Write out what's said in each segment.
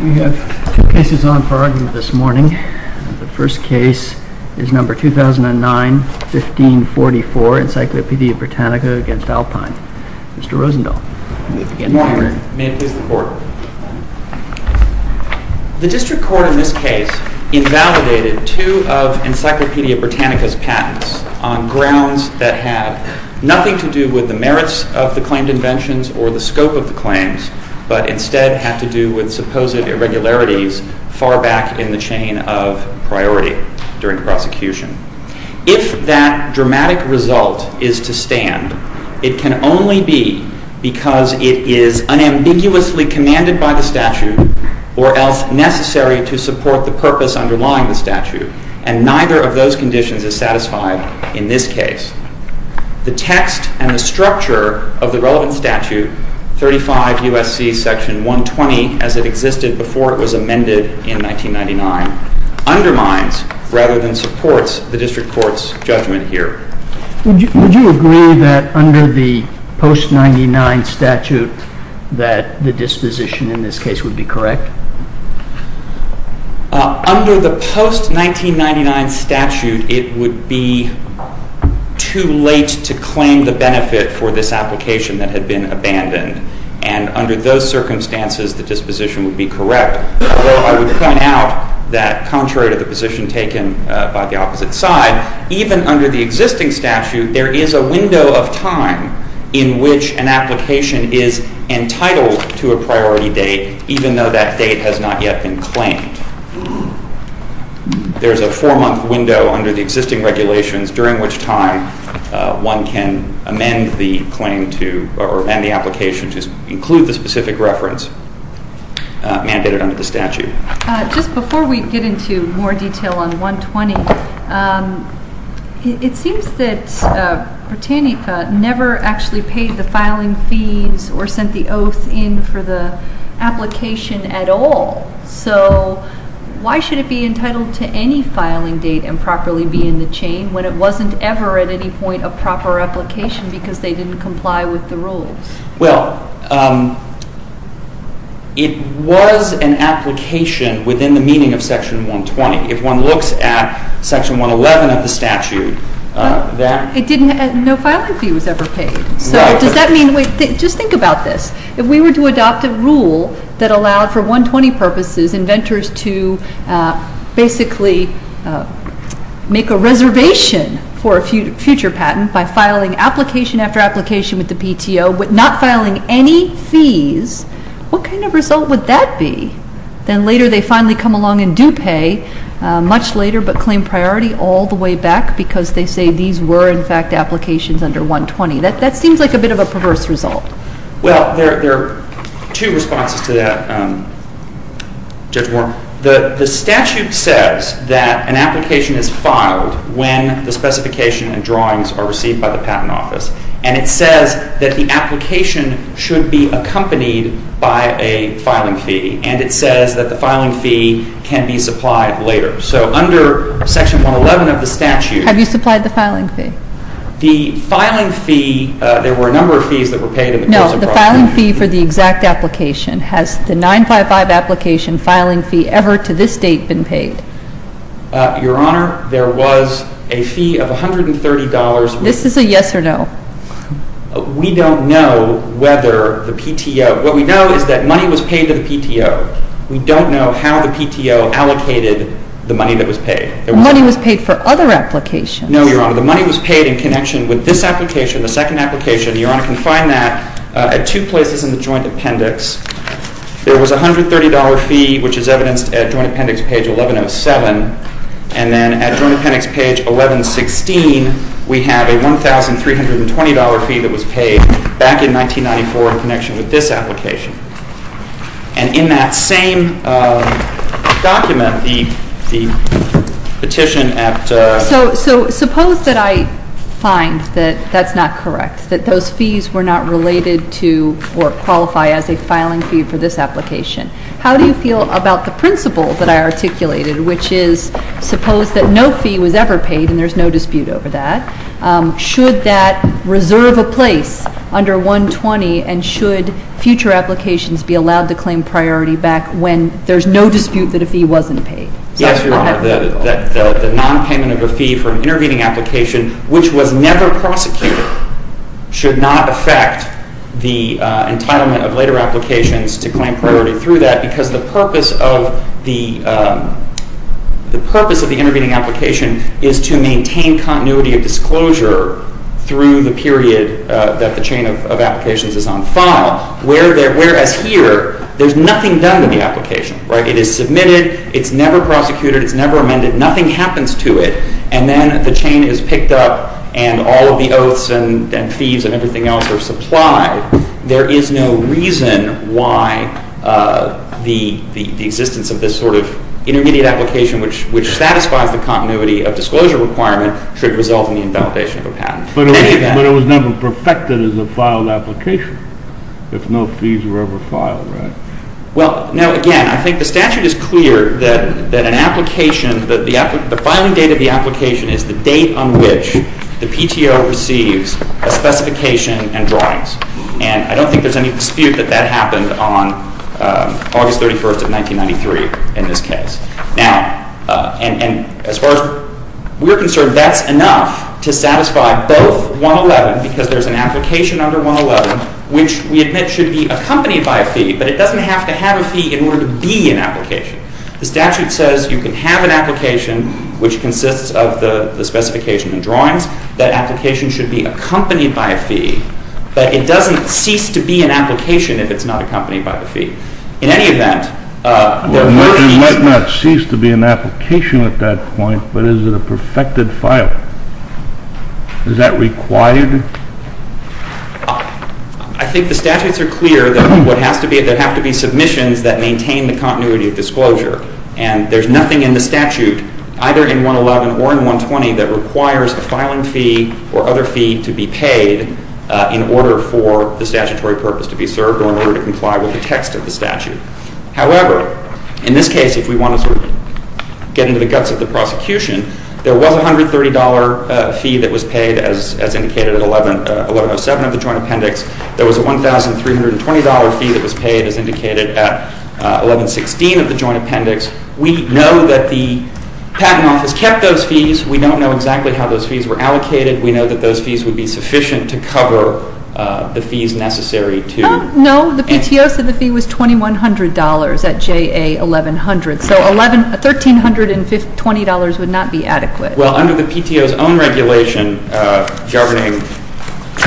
We have two cases on for argument this morning. The first case is No. 2009-1544, Encyclopedia Britannica v. Alpine. Mr. Rosendahl, you may begin. The District Court in this case invalidated two of Encyclopedia Britannica's patents on grounds that have nothing to do with the merits of the claimed inventions or the scope of the claims, but instead have to do with supposed irregularities far back in the chain of priority during prosecution. If that dramatic result is to stand, it can only be because it is unambiguously commanded by the statute or else necessary to support the purpose underlying the statute, and neither of those conditions is satisfied in this case. The text and the structure of the relevant statute, 35 U.S.C. Section 120 as it existed before it was amended in 1999, undermines rather than supports the District Court's judgment here. Would you agree that under the post-99 statute that the disposition in this case would be correct? Under the post-1999 statute, it would be too late to claim the benefit for this application that had been abandoned, and under those circumstances, the disposition would be correct. Although I would point out that contrary to the position taken by the opposite side, even under the existing statute, there is a window of time in which an application is entitled to a priority date, even though that date has not yet been claimed. There is a four-month window under the existing regulations during which time one can amend the claim to, or amend the application to include the specific reference mandated under the statute. Just before we get into more detail on 120, it seems that Britannica never actually paid the filing fees or sent the oath in for the application at all. So why should it be entitled to any filing date and properly be in the chain when it wasn't ever at any point a proper application because they didn't comply with the rules? Well, it was an application within the meaning of Section 120. If one looks at Section 111 of the statute, that – It didn't – no filing fee was ever paid. Right. So does that mean – just think about this. If we were to adopt a rule that allowed for 120 purposes inventors to basically make a reservation for a future patent by filing application after application with the PTO but not filing any fees, what kind of result would that be? Then later they finally come along and do pay much later but claim priority all the way back because they say these were, in fact, applications under 120. That seems like a bit of a perverse result. Well, there are two responses to that, Judge Warren. The statute says that an application is filed when the specification and drawings are received by the Patent Office. And it says that the application should be accompanied by a filing fee. And it says that the filing fee can be supplied later. So under Section 111 of the statute – Have you supplied the filing fee? The filing fee – there were a number of fees that were paid in the case of – No, the filing fee for the exact application. Has the 955 application filing fee ever to this date been paid? Your Honor, there was a fee of $130 – This is a yes or no. We don't know whether the PTO – what we know is that money was paid to the PTO. We don't know how the PTO allocated the money that was paid. Money was paid for other applications. No, Your Honor. The money was paid in connection with this application, the second application. Your Honor can find that at two places in the Joint Appendix. There was a $130 fee, which is evidenced at Joint Appendix page 1107. And then at Joint Appendix page 1116, we have a $1,320 fee that was paid back in 1994 in connection with this application. And in that same document, the petition at – So suppose that I find that that's not correct, that those fees were not related to or qualify as a filing fee for this application. How do you feel about the principle that I articulated, which is suppose that no fee was ever paid, and there's no dispute over that. Should that reserve a place under 120, and should future applications be allowed to claim priority back when there's no dispute that a fee wasn't paid? Yes, Your Honor. The nonpayment of a fee for an intervening application, which was never prosecuted, should not affect the entitlement of later applications to claim priority through that, because the purpose of the intervening application is to maintain continuity of disclosure through the period that the chain of applications is on file, whereas here, there's nothing done to the application. It is submitted. It's never prosecuted. It's never amended. Nothing happens to it. And then the chain is picked up, and all of the oaths and fees and everything else are supplied. There is no reason why the existence of this sort of intermediate application, which satisfies the continuity of disclosure requirement, should result in the invalidation of a patent. But it was never perfected as a filed application, if no fees were ever filed, right? Well, no, again, I think the statute is clear that an application, that the filing date of the application is the date on which the PTO receives a specification and drawings. And I don't think there's any dispute that that happened on August 31st of 1993 in this case. Now, and as far as we're concerned, that's enough to satisfy both 111, because there's an application under 111, which we admit should be accompanied by a fee, but it doesn't have to have a fee in order to be an application. The statute says you can have an application which consists of the specification and drawings. That application should be accompanied by a fee, but it doesn't cease to be an application if it's not accompanied by a fee. In any event, there were fees. Well, it might not cease to be an application at that point, but is it a perfected file? Is that required? I think the statutes are clear that there have to be submissions that maintain the continuity of disclosure. And there's nothing in the statute, either in 111 or in 120, that requires a filing fee or other fee to be paid in order for the statutory purpose to be served or in order to comply with the text of the statute. However, in this case, if we want to sort of get into the guts of the prosecution, there was a $130 fee that was paid, as indicated at 1107 of the Joint Appendix. There was a $1,320 fee that was paid, as indicated at 1116 of the Joint Appendix. We know that the Patent Office kept those fees. We don't know exactly how those fees were allocated. We know that those fees would be sufficient to cover the fees necessary to... $1,300 at JA 1100. So $1,320 would not be adequate. Well, under the PTO's own regulation governing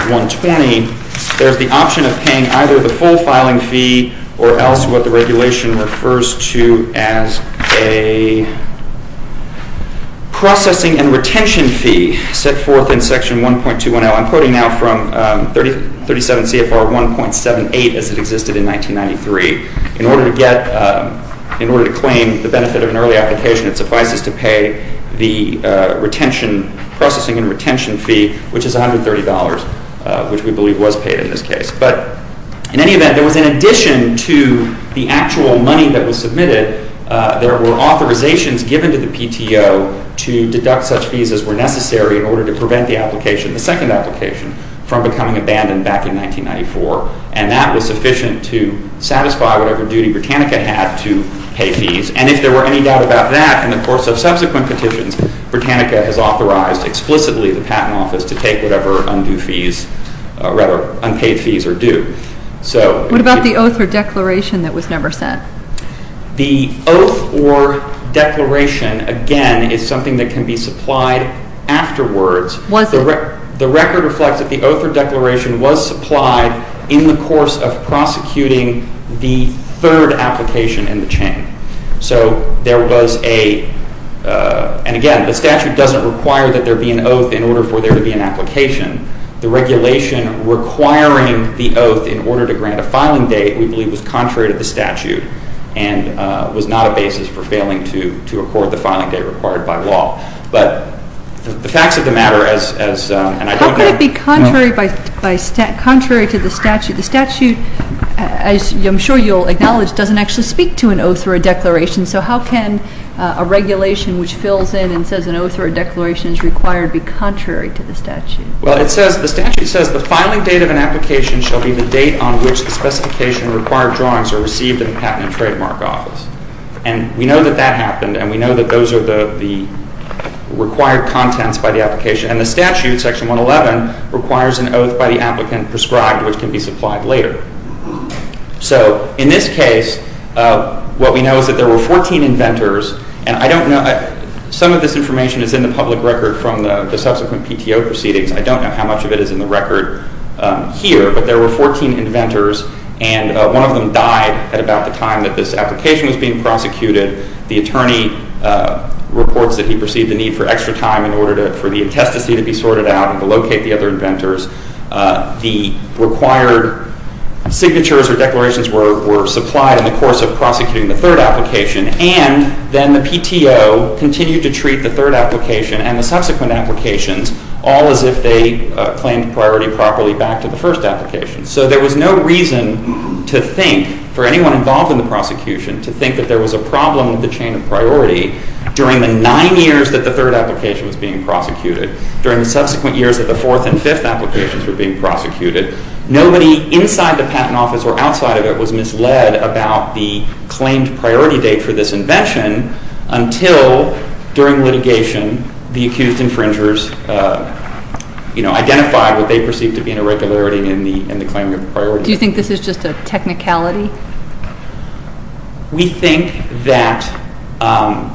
120, there's the option of paying either the full filing fee or else what the regulation refers to as a processing and retention fee set forth in Section 1.210. I'm quoting now from 37 CFR 1.78 as it existed in 1993. In order to claim the benefit of an early application, it suffices to pay the processing and retention fee, which is $130, which we believe was paid in this case. But in any event, there was in addition to the actual money that was submitted, there were authorizations given to the PTO to deduct such fees as were necessary in order to prevent the application. The second application from becoming abandoned back in 1994. And that was sufficient to satisfy whatever duty Britannica had to pay fees. And if there were any doubt about that, in the course of subsequent petitions, Britannica has authorized explicitly the Patent Office to take whatever unpaid fees are due. What about the oath or declaration that was never sent? The oath or declaration, again, is something that can be supplied afterwards. The record reflects that the oath or declaration was supplied in the course of prosecuting the third application in the chain. So there was a, and again, the statute doesn't require that there be an oath in order for there to be an application. The regulation requiring the oath in order to grant a filing date, we believe, was contrary to the statute and was not a basis for failing to record the filing date required by law. But the facts of the matter as, and I don't know. How could it be contrary to the statute? The statute, I'm sure you'll acknowledge, doesn't actually speak to an oath or a declaration. So how can a regulation which fills in and says an oath or a declaration is required be contrary to the statute? Well, it says, the statute says the filing date of an application shall be the date on which the specification required drawings are received in the Patent and Trademark Office. And we know that that happened, and we know that those are the required contents by the application. And the statute, Section 111, requires an oath by the applicant prescribed, which can be supplied later. So in this case, what we know is that there were 14 inventors, and I don't know. Some of this information is in the public record from the subsequent PTO proceedings. I don't know how much of it is in the record here. But there were 14 inventors, and one of them died at about the time that this application was being prosecuted. The attorney reports that he perceived the need for extra time in order for the intestacy to be sorted out and to locate the other inventors. The required signatures or declarations were supplied in the course of prosecuting the third application. And then the PTO continued to treat the third application and the subsequent applications all as if they claimed priority properly back to the first application. So there was no reason to think, for anyone involved in the prosecution, to think that there was a problem with the chain of priority during the nine years that the third application was being prosecuted, during the subsequent years that the fourth and fifth applications were being prosecuted. Nobody inside the patent office or outside of it was misled about the claimed priority date for this invention until, during litigation, the accused infringers identified what they perceived to be an irregularity in the claiming of the priority date. Do you think this is just a technicality? We think that – I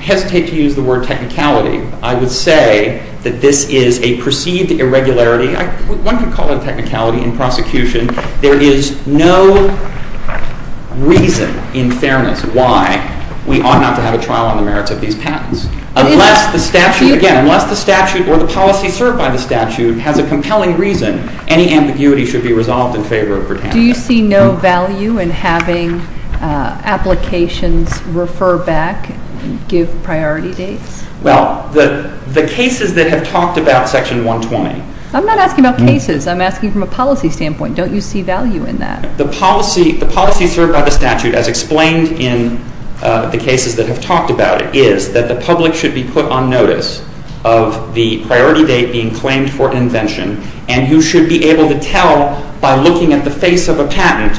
hesitate to use the word technicality. I would say that this is a perceived irregularity. One could call it a technicality in prosecution. There is no reason, in fairness, why we ought not to have a trial on the merits of these patents. Unless the statute, again, unless the statute or the policy served by the statute has a compelling reason, any ambiguity should be resolved in favor of Britannia. Do you see no value in having applications refer back and give priority dates? Well, the cases that have talked about Section 120 – I'm not asking about cases. I'm asking from a policy standpoint. Don't you see value in that? The policy served by the statute, as explained in the cases that have talked about it, is that the public should be put on notice of the priority date being claimed for an invention, and you should be able to tell, by looking at the face of a patent,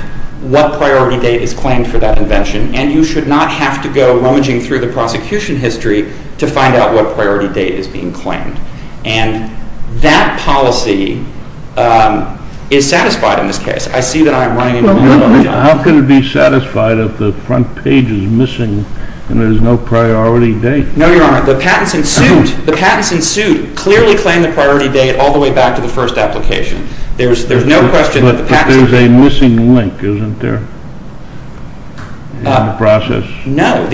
what priority date is claimed for that invention. And you should not have to go rummaging through the prosecution history to find out what priority date is being claimed. And that policy is satisfied in this case. I see that I am running into a little bit of trouble. How can it be satisfied if the front page is missing and there is no priority date? No, Your Honor. The patents in suit clearly claim the priority date all the way back to the first application. There is no question that the patents in suit – But there is a missing link, isn't there? In the process? No.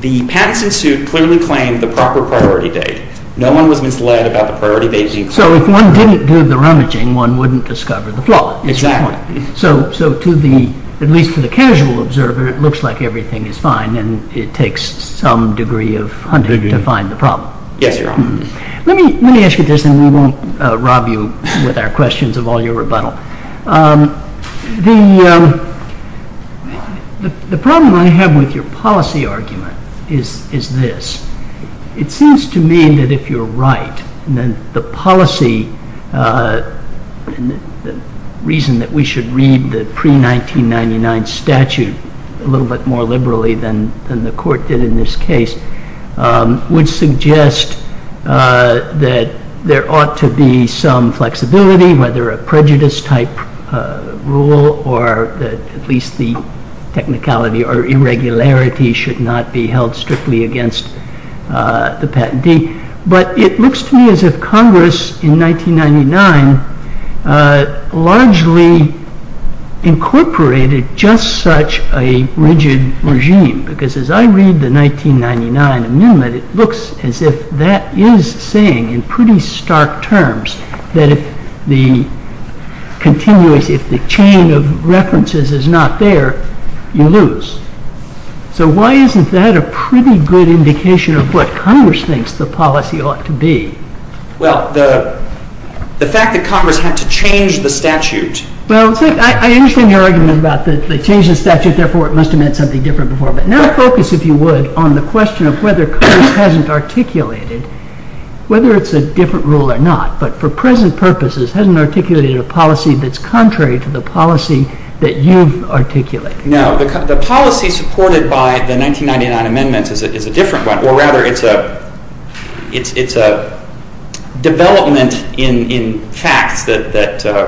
The patents in suit clearly claim the proper priority date. No one was misled about the priority date being claimed. So if one didn't do the rummaging, one wouldn't discover the flaw. Exactly. So, at least to the casual observer, it looks like everything is fine, and it takes some degree of hunting to find the problem. Yes, Your Honor. Let me ask you this, and we won't rob you with our questions of all your rebuttal. The problem I have with your policy argument is this. It seems to me that if you are right, then the policy – the reason that we should read the pre-1999 statute a little bit more liberally than the Court did in this case – would suggest that there ought to be some flexibility, whether a prejudice-type rule, or that at least the technicality or irregularity should not be held strictly against the patentee. But it looks to me as if Congress in 1999 largely incorporated just such a rigid regime, because as I read the 1999 amendment, it looks as if that is saying in pretty stark terms that if the chain of references is not there, you lose. So why isn't that a pretty good indication of what Congress thinks the policy ought to be? Well, the fact that Congress had to change the statute – Well, I understand your argument about the change of the statute, and therefore it must have meant something different before. But now focus, if you would, on the question of whether Congress hasn't articulated, whether it's a different rule or not, but for present purposes, hasn't articulated a policy that's contrary to the policy that you've articulated. No. The policy supported by the 1999 amendment is a different one. Or rather, it's a development in facts that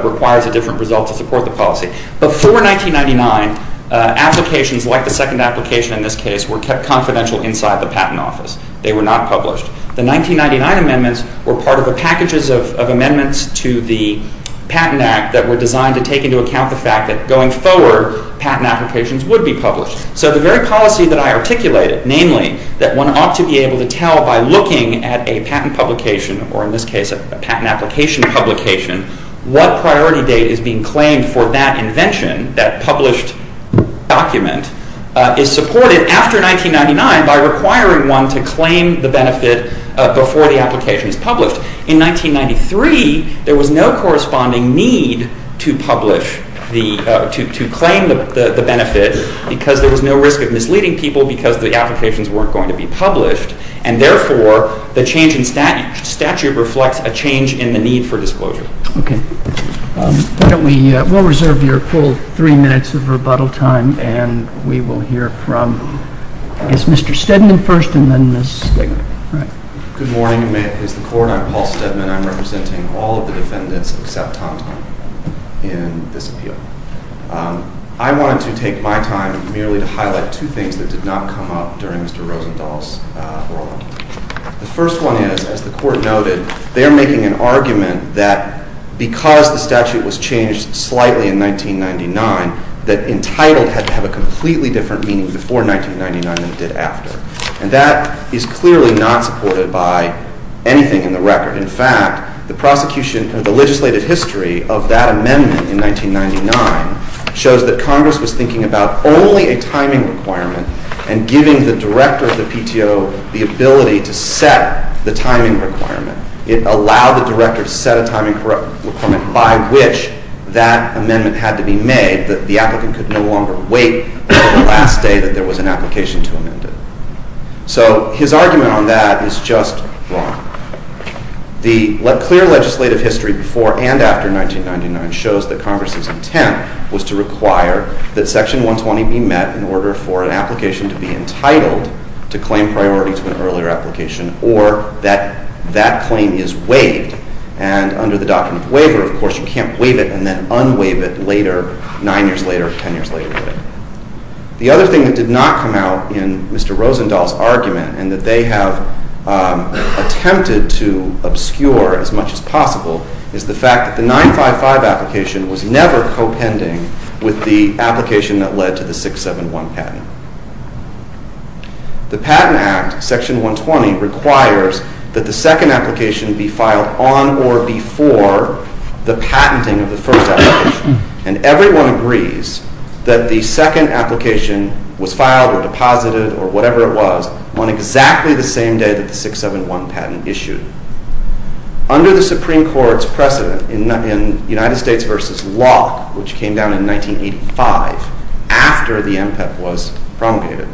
requires a different result to support the policy. Before 1999, applications like the second application in this case were kept confidential inside the Patent Office. They were not published. The 1999 amendments were part of the packages of amendments to the Patent Act that were designed to take into account the fact that going forward, patent applications would be published. So the very policy that I articulated, namely, that one ought to be able to tell by looking at a patent publication, or in this case, a patent application publication, what priority date is being claimed for that invention, that published document, is supported after 1999 by requiring one to claim the benefit before the application is published. In 1993, there was no corresponding need to claim the benefit because there was no risk of misleading people because the applications weren't going to be published, and therefore, the change in statute reflects a change in the need for disclosure. Okay. Why don't we—we'll reserve your full three minutes of rebuttal time, and we will hear from, I guess, Mr. Stedman first, and then Ms.— Stedman. Good morning, and may it please the Court. I'm Paul Stedman. I'm representing all of the defendants except Tom Tom in this appeal. I wanted to take my time merely to highlight two things that did not come up during Mr. Rosenthal's ruling. The first one is, as the Court noted, they are making an argument that because the statute was changed slightly in 1999, that entitled had to have a completely different meaning before 1999 than it did after, and that is clearly not supported by anything in the record. In fact, the prosecution—the legislative history of that amendment in 1999 shows that Congress was thinking about only a timing requirement and giving the director of the PTO the ability to set the timing requirement. It allowed the director to set a timing requirement by which that amendment had to be made, that the applicant could no longer wait until the last day that there was an application to amend it. So his argument on that is just wrong. The clear legislative history before and after 1999 shows that Congress's intent was to require that Section 120 be met in order for an application to be entitled to claim priority to an earlier application or that that claim is waived, and under the document of waiver, of course, you can't waive it and then unwaive it later, 9 years later, 10 years later. The other thing that did not come out in Mr. Rosenthal's argument is the fact that the 955 application was never co-pending with the application that led to the 671 patent. The Patent Act, Section 120, requires that the second application be filed on or before the patenting of the first application, and everyone agrees that the second application was filed or deposited or whatever it was on exactly the same day that the 671 patent issued. Under the Supreme Court's precedent in United States v. Locke, which came down in 1985 after the MPEP was promulgated,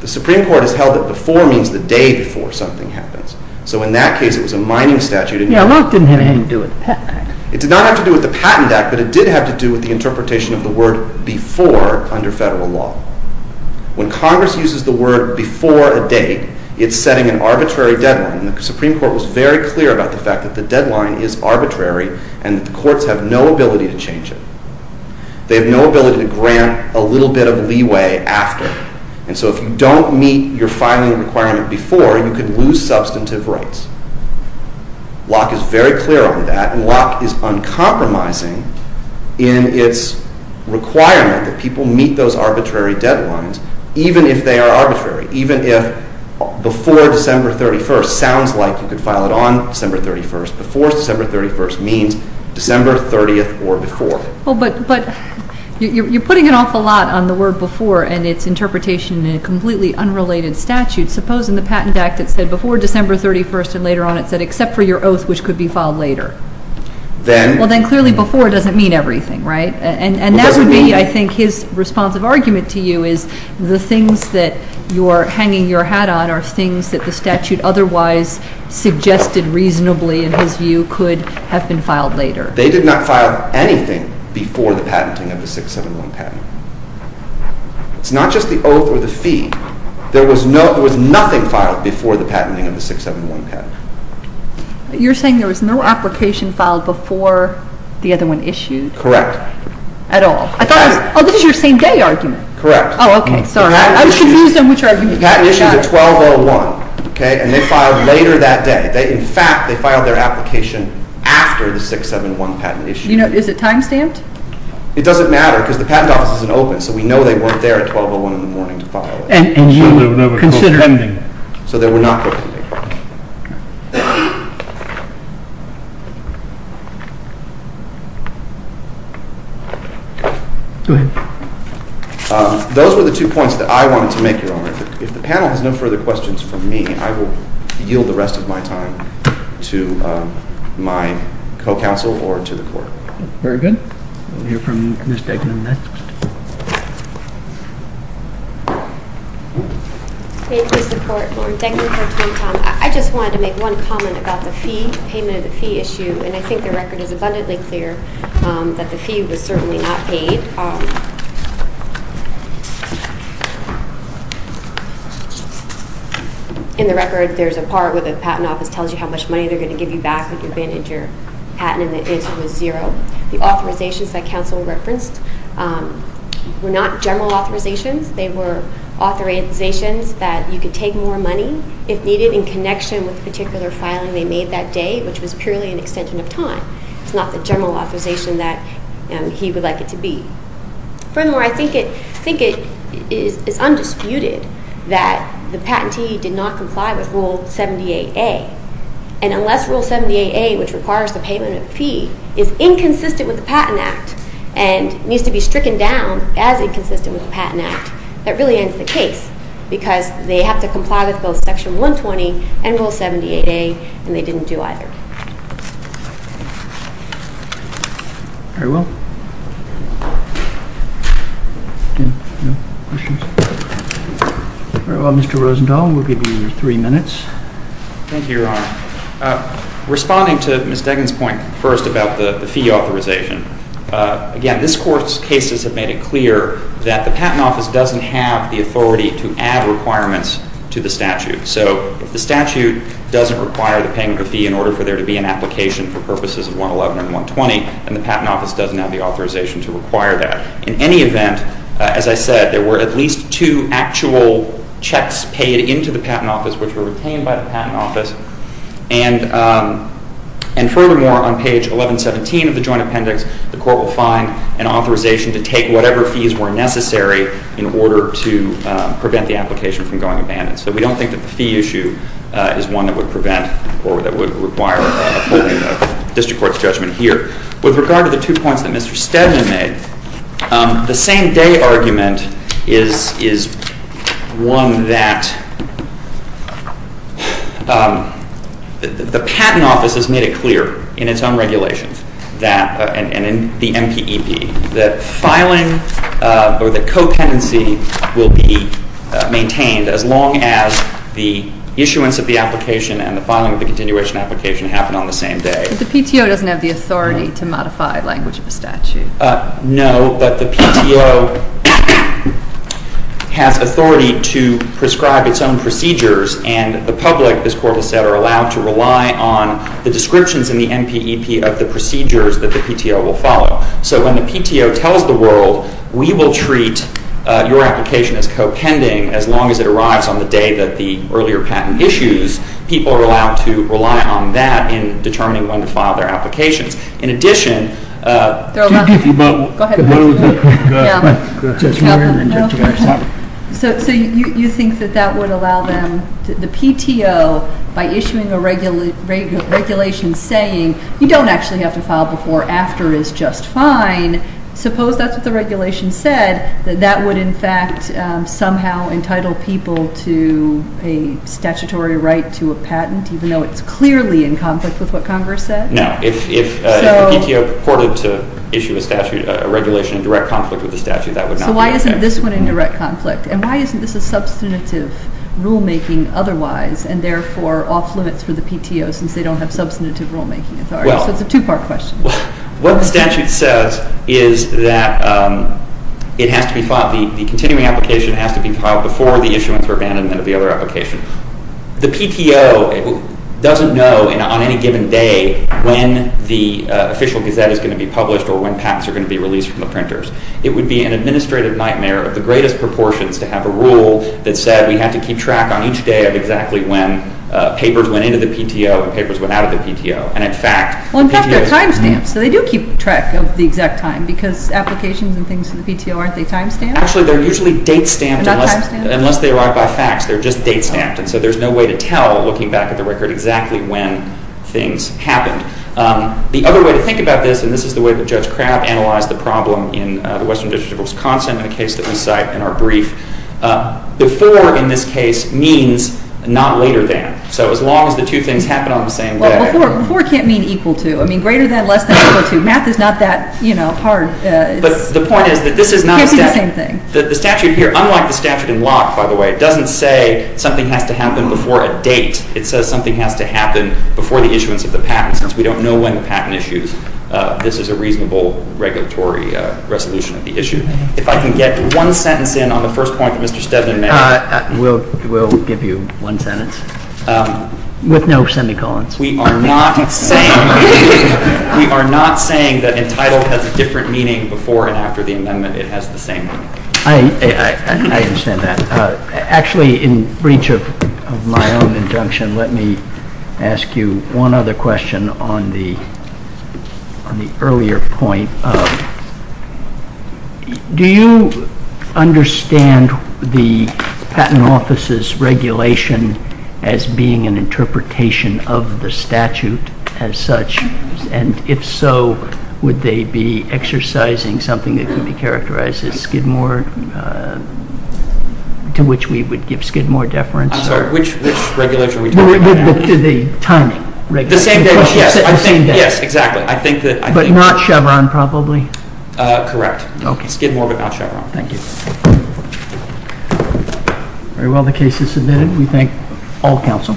the Supreme Court has held that before means the day before something happens. So in that case, it was a mining statute. Yeah, Locke didn't have anything to do with the Patent Act. It did not have to do with the Patent Act, but it did have to do with the interpretation of the word before under federal law. When Congress uses the word before a date, it's setting an arbitrary deadline, and the Supreme Court was very clear about the fact that the deadline is arbitrary and that the courts have no ability to change it. They have no ability to grant a little bit of leeway after, and so if you don't meet your filing requirement before, you can lose substantive rights. Locke is very clear on that, and Locke is uncompromising in its requirement that people meet those arbitrary deadlines, even if they are arbitrary, even if before December 31st sounds like you could file it on December 31st. Before December 31st means December 30th or before. Well, but you're putting an awful lot on the word before and its interpretation in a completely unrelated statute. Suppose in the Patent Act it said before December 31st, and later on it said except for your oath, which could be filed later. Well, then clearly before doesn't mean everything, right? And that would be, I think, his responsive argument to you is the things that you're hanging your hat on are things that the statute otherwise suggested reasonably, in his view, could have been filed later. They did not file anything before the patenting of the 671 patent. It's not just the oath or the fee. There was nothing filed before the patenting of the 671 patent. You're saying there was no application filed before the other one issued? Correct. At all. Oh, this is your same-day argument. Correct. Oh, okay, sorry. I was confused on which argument. The patent issue is at 12.01, okay, and they filed later that day. In fact, they filed their application after the 671 patent issue. You know, is it time-stamped? It doesn't matter because the Patent Office isn't open, so we know they weren't there at 12.01 in the morning to file it. So they were not there. Go ahead. Those were the two points that I wanted to make, Your Honor. If the panel has no further questions for me, I will yield the rest of my time to my co-counsel or to the Court. Very good. We'll hear from Ms. Degnan next. Thank you, Mr. Court. Thank you for your time, Tom. I just wanted to make one comment about the fee, payment of the fee issue, and I think the record is abundantly clear that the fee was certainly not paid. In the record, there's a part where the Patent Office tells you how much money they're going to give you back with your bin and your patent, and the answer was zero. The authorizations that counsel referenced were not general authorizations. They were authorizations that you could take more money if needed in connection with the particular filing they made that day, which was purely an extension of time. It's not the general authorization that he would like it to be. Furthermore, I think it is undisputed that the patentee did not comply with Rule 78A, and unless Rule 78A, which requires the payment of the fee, is inconsistent with the Patent Act and needs to be stricken down as inconsistent with the Patent Act, that really ends the case because they have to comply with both Section 120 and Rule 78A, and they didn't do either. Very well. Very well, Mr. Rosenthal, we'll give you three minutes. Thank you, Your Honor. Responding to Ms. Deggan's point first about the fee authorization, again, this Court's cases have made it clear that the Patent Office doesn't have the authority to add requirements to the statute. So the statute doesn't require the payment of the fee in order for there to be an application for purposes of 111 and 120, and the Patent Office doesn't have the authorization to require that. In any event, as I said, there were at least two actual checks paid into the Patent Office which were retained by the Patent Office, and furthermore, on page 1117 of the Joint Appendix, the Court will find an authorization to take whatever fees were necessary in order to prevent the application from going abandoned. So we don't think that the fee issue is one that would prevent or that would require District Court's judgment here. With regard to the two points that Mr. Stedman made, the same-day argument is one that the Patent Office has made it clear in its own regulations and in the MPEP that filing or that copenancy will be maintained as long as the issuance of the application and the filing of the continuation application happen on the same day. But the PTO doesn't have the authority to modify language of a statute. No, but the PTO has authority to prescribe its own procedures, and the public, this Court has said, are allowed to rely on the descriptions in the MPEP of the procedures that the PTO will follow. So when the PTO tells the world, we will treat your application as copending as long as it arrives on the day that the earlier patent issues, people are allowed to rely on that in determining when to file their applications. In addition, Go ahead. So you think that that would allow them, the PTO, by issuing a regulation saying, you don't actually have to file before, after is just fine, suppose that's what the regulation said, that that would in fact somehow entitle people to a statutory right to a patent, even though it's clearly in conflict with what Congress said? No. If the PTO purported to issue a statute, a regulation in direct conflict with the statute, that would not be the case. So why isn't this one in direct conflict? And why isn't this a substantive rulemaking otherwise, and therefore off limits for the PTO since they don't have substantive rulemaking authority? So it's a two-part question. Well, what the statute says is that it has to be filed, the continuing application has to be filed before the issuance or abandonment of the other application. The PTO doesn't know on any given day when the official gazette is going to be published or when patents are going to be released from the printers. It would be an administrative nightmare of the greatest proportions to have a rule that said we have to keep track on each day of exactly when papers went into the PTO and papers went out of the PTO, and in fact the PTO… Well, in fact they're time-stamped, so they do keep track of the exact time because applications and things to the PTO, aren't they time-stamped? Actually, they're usually date-stamped. Not time-stamped? Unless they arrive by fax, they're just date-stamped, and so there's no way to tell, looking back at the record, exactly when things happened. The other way to think about this, and this is the way that Judge Crabb analyzed the problem in the Western District of Wisconsin in a case that we cite in our brief, before in this case means not later than. So as long as the two things happen on the same day… Well, before can't mean equal to. I mean greater than, less than, or equal to. Math is not that hard. But the point is that this is not… It can't be the same thing. The statute here, unlike the statute in Locke, by the way, doesn't say something has to happen before a date. It says something has to happen before the issuance of the patent. Since we don't know when the patent issues, this is a reasonable regulatory resolution of the issue. If I can get one sentence in on the first point that Mr. Steadman made. We'll give you one sentence. With no semicolons. We are not saying that entitled has a different meaning before and after the amendment. It has the same meaning. I understand that. Actually, in breach of my own injunction, let me ask you one other question on the earlier point. Do you understand the Patent Office's regulation as being an interpretation of the statute as such? And if so, would they be exercising something that can be characterized as Skidmore, to which we would give Skidmore deference? I'm sorry, which regulation are we talking about? The timing regulation. Yes, exactly. But not Chevron, probably? Correct. Skidmore but not Chevron. Thank you. Very well, the case is submitted. We thank all counsel.